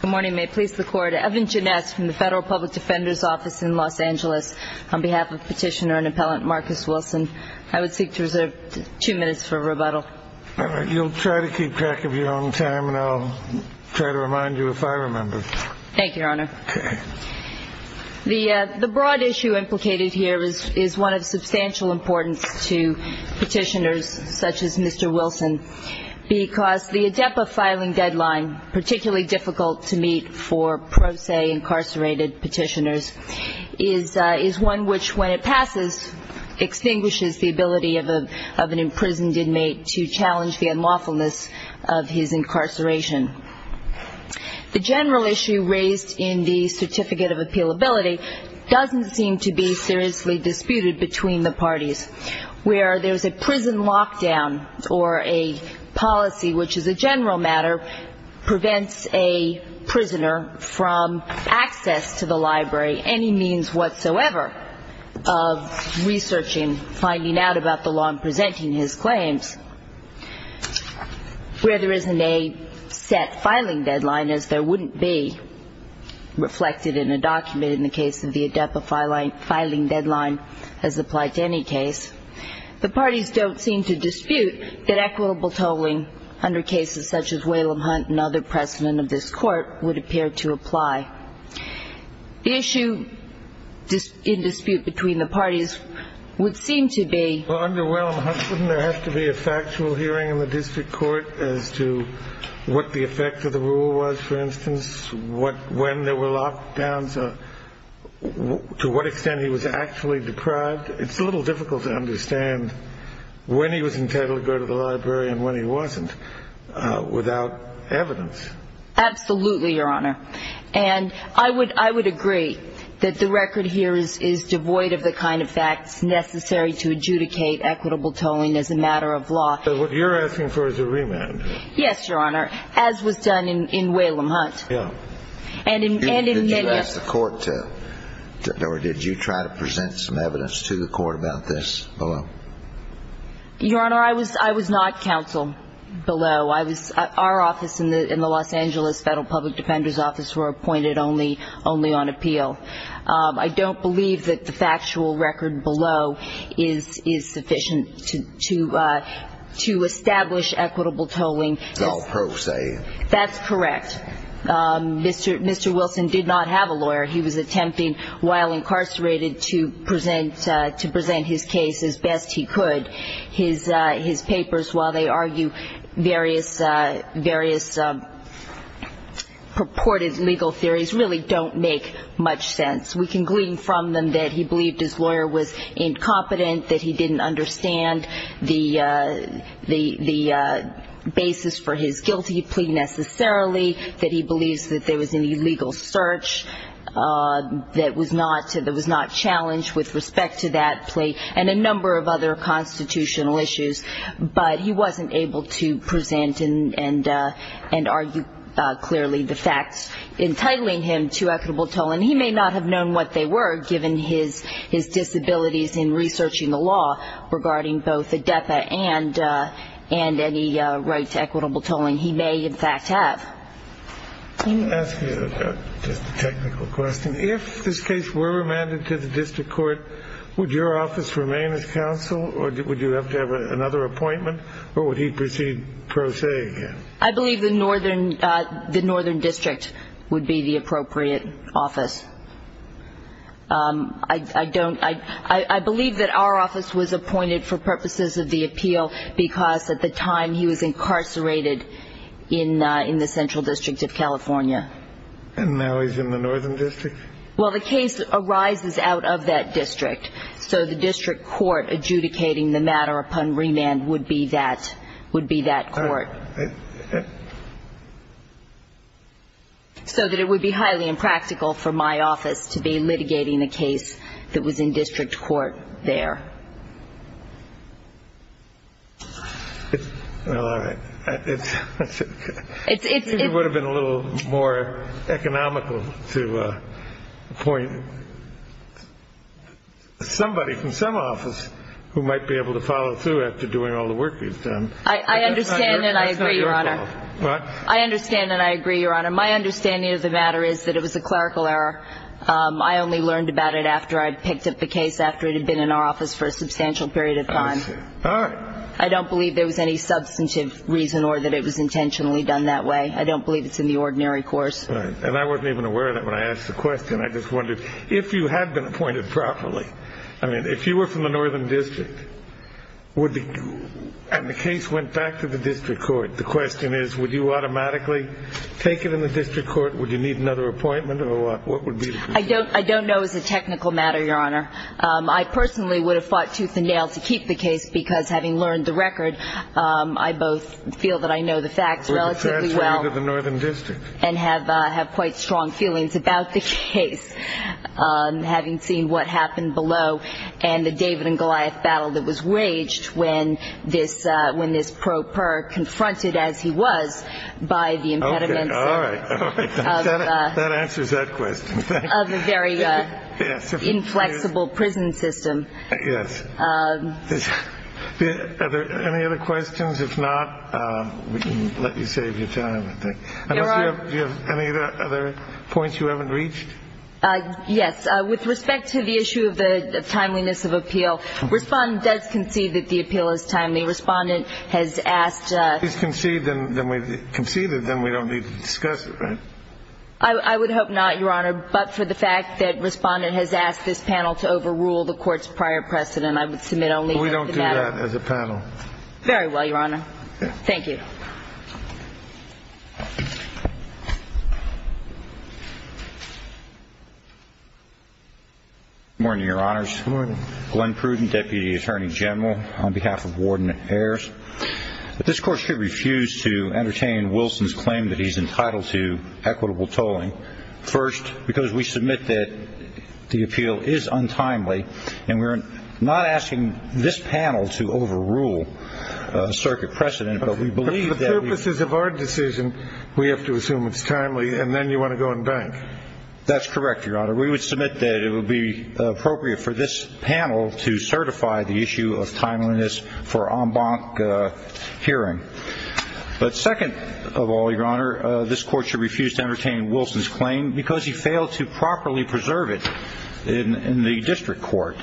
Good morning. May it please the Court, Evan Jeunesse from the Federal Public Defender's Office in Los Angeles, on behalf of Petitioner and Appellant Marcus Wilson. I would seek to reserve two minutes for rebuttal. You'll try to keep track of your own time, and I'll try to remind you if I remember. Thank you, Your Honor. Okay. The broad issue implicated here is one of substantial importance to petitioners such as Mr. Wilson, because the ADEPA filing deadline, particularly difficult to meet for pro se incarcerated petitioners, is one which, when it passes, extinguishes the ability of an imprisoned inmate to challenge the unlawfulness of his incarceration. The general issue raised in the Certificate of Appealability doesn't seem to be seriously disputed between the parties. Where there's a prison lockdown or a policy which, as a general matter, prevents a prisoner from access to the library, any means whatsoever of researching, finding out about the law and presenting his claims, where there isn't a set filing deadline, as there wouldn't be reflected in a document in the case of the ADEPA filing deadline as applied to any case, the parties don't seem to dispute that equitable tolling under cases such as Whalum Hunt and other precedent of this Court would appear to apply. The issue in dispute between the parties would seem to be... Well, under Whalum Hunt, wouldn't there have to be a factual hearing in the district court as to what the effect of the rule was, for instance? When there were lockdowns, to what extent he was actually deprived? It's a little difficult to understand when he was entitled to go to the library and when he wasn't without evidence. Absolutely, Your Honor. And I would agree that the record here is devoid of the kind of facts necessary to adjudicate equitable tolling as a matter of law. So what you're asking for is a remand? Yes, Your Honor, as was done in Whalum Hunt. Yeah. And in many of... Did you ask the Court to, or did you try to present some evidence to the Court about this below? Your Honor, I was not counsel below. Our office in the Los Angeles Federal Public Defender's Office were appointed only on appeal. I don't believe that the factual record below is sufficient to establish equitable tolling. It's all pro se. That's correct. Mr. Wilson did not have a lawyer. He was attempting, while incarcerated, to present his case as best he could. His papers, while they argue various purported legal theories, really don't make much sense. We can glean from them that he believed his lawyer was incompetent, that he didn't understand the basis for his guilty plea necessarily, that he believes that there was an illegal search that was not challenged with respect to that plea, and a number of other constitutional issues. But he wasn't able to present and argue clearly the facts entitling him to equitable tolling. He may not have known what they were, given his disabilities in researching the law, regarding both ADEPA and any right to equitable tolling. He may, in fact, have. Let me ask you just a technical question. If this case were remanded to the district court, would your office remain as counsel, or would you have to have another appointment, or would he proceed pro se again? I believe the Northern District would be the appropriate office. I believe that our office was appointed for purposes of the appeal because, at the time, he was incarcerated in the Central District of California. And now he's in the Northern District? Well, the case arises out of that district, so the district court adjudicating the matter upon remand would be that court. So that it would be highly impractical for my office to be litigating the case that was in district court there. Well, all right. It would have been a little more economical to appoint somebody from some office who might be able to follow through after doing all the work he's done. I understand and I agree, Your Honor. I understand and I agree, Your Honor. My understanding of the matter is that it was a clerical error. I only learned about it after I picked up the case after it had been in our office for a substantial period of time. I see. All right. I don't believe there was any substantive reason or that it was intentionally done that way. I don't believe it's in the ordinary course. And I wasn't even aware of that when I asked the question. I just wondered, if you had been appointed properly, I mean, if you were from the Northern District, and the case went back to the district court, the question is, would you automatically take it in the district court? Would you need another appointment or what would be the procedure? I don't know as a technical matter, Your Honor. I personally would have fought tooth and nail to keep the case because, having learned the record, I both feel that I know the facts relatively well and have quite strong feelings about the case, having seen what happened below and the David and Goliath battle that was waged when this pro per confronted, as he was, by the impediments of a very inflexible prison system. Yes. Are there any other questions? If not, we can let you save your time, I think. Do you have any other points you haven't reached? Yes. With respect to the issue of the timeliness of appeal, Respondent does concede that the appeal is timely. Respondent has asked If it's conceded, then we don't need to discuss it, right? I would hope not, Your Honor, but for the fact that Respondent has asked this panel to overrule the court's prior precedent, I would submit only that the matter We don't do that as a panel. Very well, Your Honor. Thank you. Good morning, Your Honors. Good morning. Glenn Pruden, Deputy Attorney General, on behalf of Warden Ayers. This Court should refuse to entertain Wilson's claim that he's entitled to equitable tolling. First, because we submit that the appeal is untimely, and we're not asking this panel to overrule a circuit precedent, but we believe that For the purposes of our decision, we have to assume it's timely, and then you want to go and bank. That's correct, Your Honor. We would submit that it would be appropriate for this panel to certify the issue of timeliness for en banc hearing. But second of all, Your Honor, this Court should refuse to entertain Wilson's claim because he failed to properly preserve it in the district court.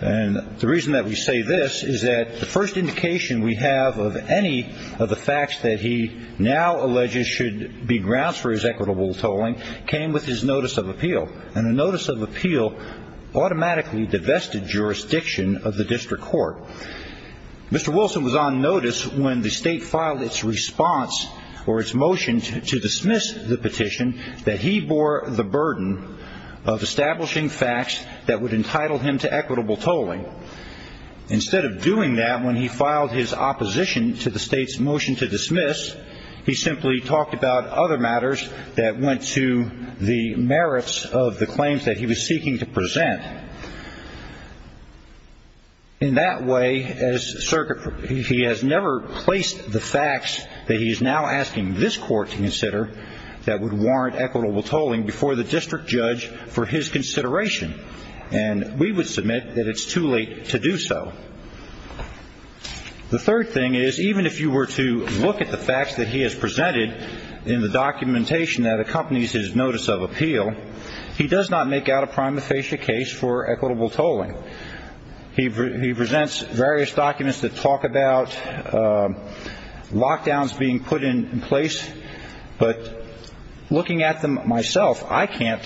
And the reason that we say this is that the first indication we have of any of the facts that he now alleges should be grounds for his equitable tolling came with his notice of appeal, and the notice of appeal automatically divested jurisdiction of the district court. Mr. Wilson was on notice when the state filed its response or its motion to dismiss the petition that he bore the burden of establishing facts that would entitle him to equitable tolling. Instead of doing that when he filed his opposition to the state's motion to dismiss, he simply talked about other matters that went to the merits of the claims that he was seeking to present. In that way, he has never placed the facts that he is now asking this Court to consider that would warrant equitable tolling before the district judge for his consideration, and we would submit that it's too late to do so. The third thing is, even if you were to look at the facts that he has presented in the documentation that accompanies his notice of appeal, he does not make out a prima facie case for equitable tolling. He presents various documents that talk about lockdowns being put in place, but looking at them myself, I can't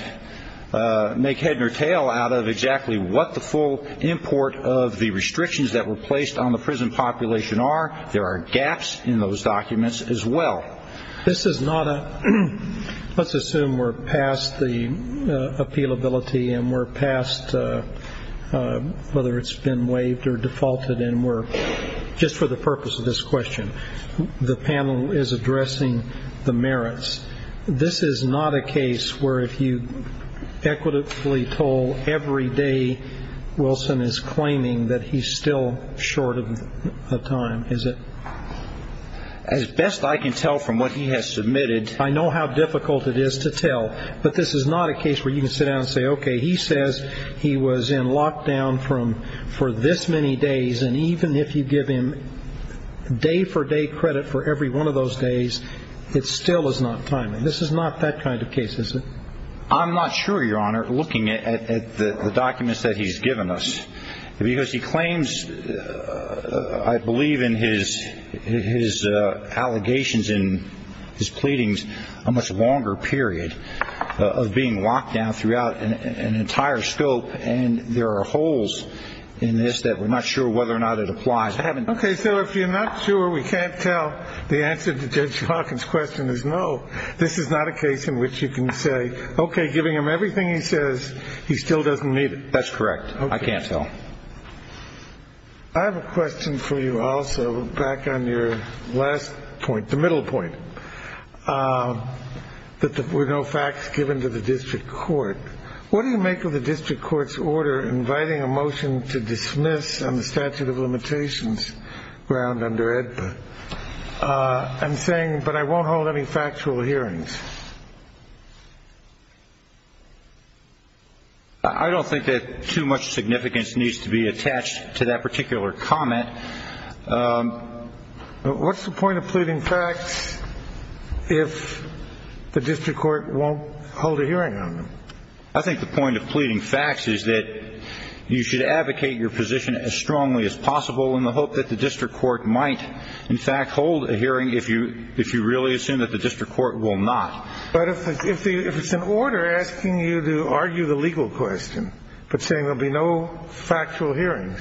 make head or tail out of exactly what the full import of the restrictions that were placed on the prison population are. There are gaps in those documents as well. Let's assume we're past the appealability and we're past whether it's been waived or defaulted, and just for the purpose of this question, the panel is addressing the merits. This is not a case where if you equitably toll every day, Wilson is claiming that he's still short of time, is it? As best I can tell from what he has submitted. I know how difficult it is to tell, but this is not a case where you can sit down and say, okay, he says he was in lockdown for this many days, and even if you give him day-for-day credit for every one of those days, it still is not timely. This is not that kind of case, is it? I'm not sure, Your Honor, looking at the documents that he's given us, because he claims, I believe in his allegations in his pleadings, a much longer period of being locked down throughout an entire scope, and there are holes in this that we're not sure whether or not it applies. Okay. So if you're not sure, we can't tell, the answer to Judge Hawkins' question is no. This is not a case in which you can say, okay, giving him everything he says, he still doesn't need it. That's correct. I can't tell. I have a question for you also, back on your last point, the middle point, that there were no facts given to the district court. What do you make of the district court's order inviting a motion to dismiss on the statute of limitations ground under AEDPA, and saying, but I won't hold any factual hearings? I don't think that too much significance needs to be attached to that particular comment. What's the point of pleading facts if the district court won't hold a hearing on them? I think the point of pleading facts is that you should advocate your position as strongly as possible in the hope that the district court might, in fact, hold a hearing if you really assume that the district court will not. But if it's an order asking you to argue the legal question, but saying there will be no factual hearings?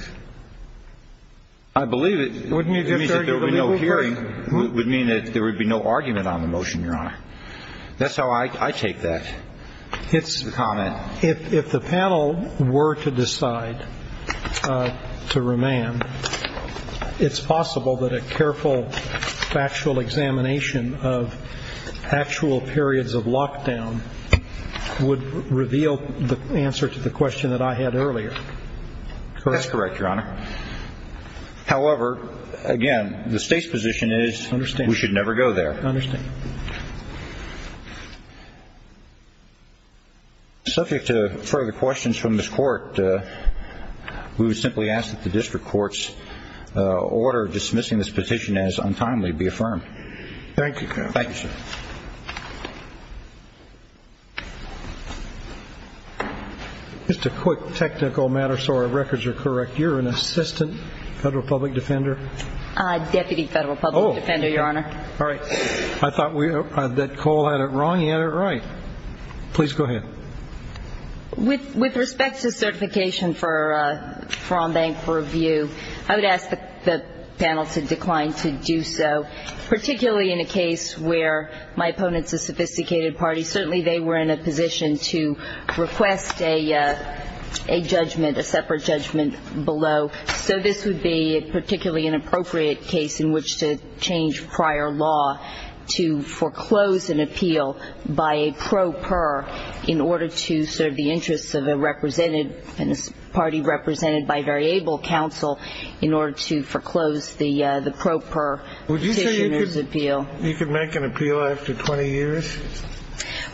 I believe it would mean that there would be no argument on the motion, Your Honor. That's how I take that. If the panel were to decide to remand, it's possible that a careful factual examination of actual periods of lockdown would reveal the answer to the question that I had earlier. That's correct, Your Honor. However, again, the state's position is we should never go there. I understand. Subject to further questions from this court, we would simply ask that the district court's order dismissing this petition as untimely be affirmed. Thank you. Thank you, sir. Just a quick technical matter so our records are correct. You're an assistant federal public defender? Deputy federal public defender, Your Honor. All right. I thought that Cole had it wrong. He had it right. Please go ahead. With respect to certification for on-bank review, I would ask the panel to decline to do so, particularly in a case where my opponent's a sophisticated party. Certainly they were in a position to request a judgment, a separate judgment below. So this would be particularly an appropriate case in which to change prior law to foreclose an appeal by a pro per in order to serve the interests of a represented party represented by variable counsel in order to foreclose the pro per petitioner's appeal. Would you say you could make an appeal after 20 years?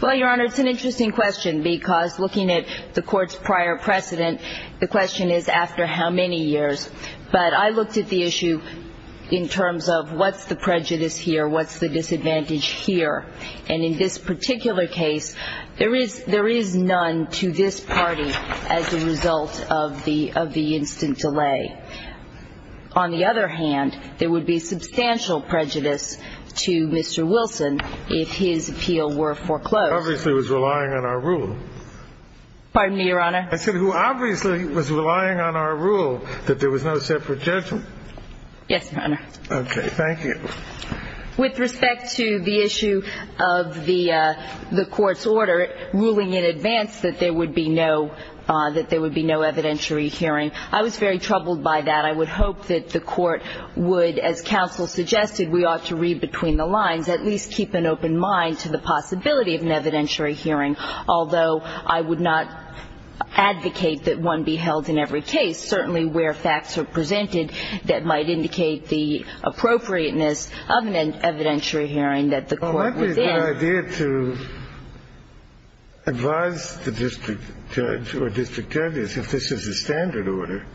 Well, Your Honor, it's an interesting question because looking at the court's prior precedent, the question is after how many years. But I looked at the issue in terms of what's the prejudice here, what's the disadvantage here. And in this particular case, there is none to this party as a result of the instant delay. On the other hand, there would be substantial prejudice to Mr. Wilson if his appeal were foreclosed. Obviously he was relying on our rule. Pardon me, Your Honor? I said who obviously was relying on our rule that there was no separate judgment. Yes, Your Honor. Okay. Thank you. With respect to the issue of the court's order ruling in advance that there would be no evidentiary hearing, I was very troubled by that. I would hope that the court would, as counsel suggested, we ought to read between the lines, at least keep an open mind to the possibility of an evidentiary hearing, although I would not advocate that one be held in every case, certainly where facts are presented that might indicate the appropriateness of an evidentiary hearing that the court was in. Well, I think it's a good idea to advise the district judge or district judges, if this is a standard order,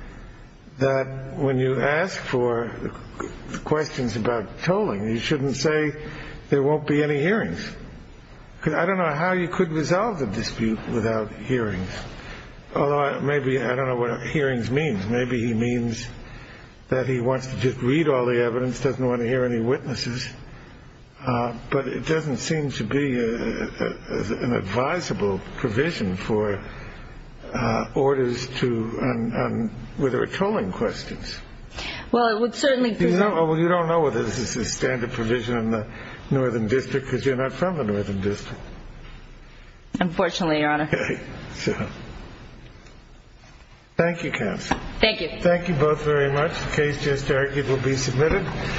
that when you ask for questions about tolling, you shouldn't say there won't be any hearings. Because I don't know how you could resolve the dispute without hearings. Although maybe I don't know what hearings means. Maybe he means that he wants to just read all the evidence, doesn't want to hear any witnesses. But it doesn't seem to be an advisable provision for orders to whether tolling questions. Well, it would certainly be. Well, you don't know whether this is a standard provision in the Northern District because you're not from the Northern District. Unfortunately, Your Honor. Thank you, counsel. Thank you. Thank you both very much. The case just argued will be submitted.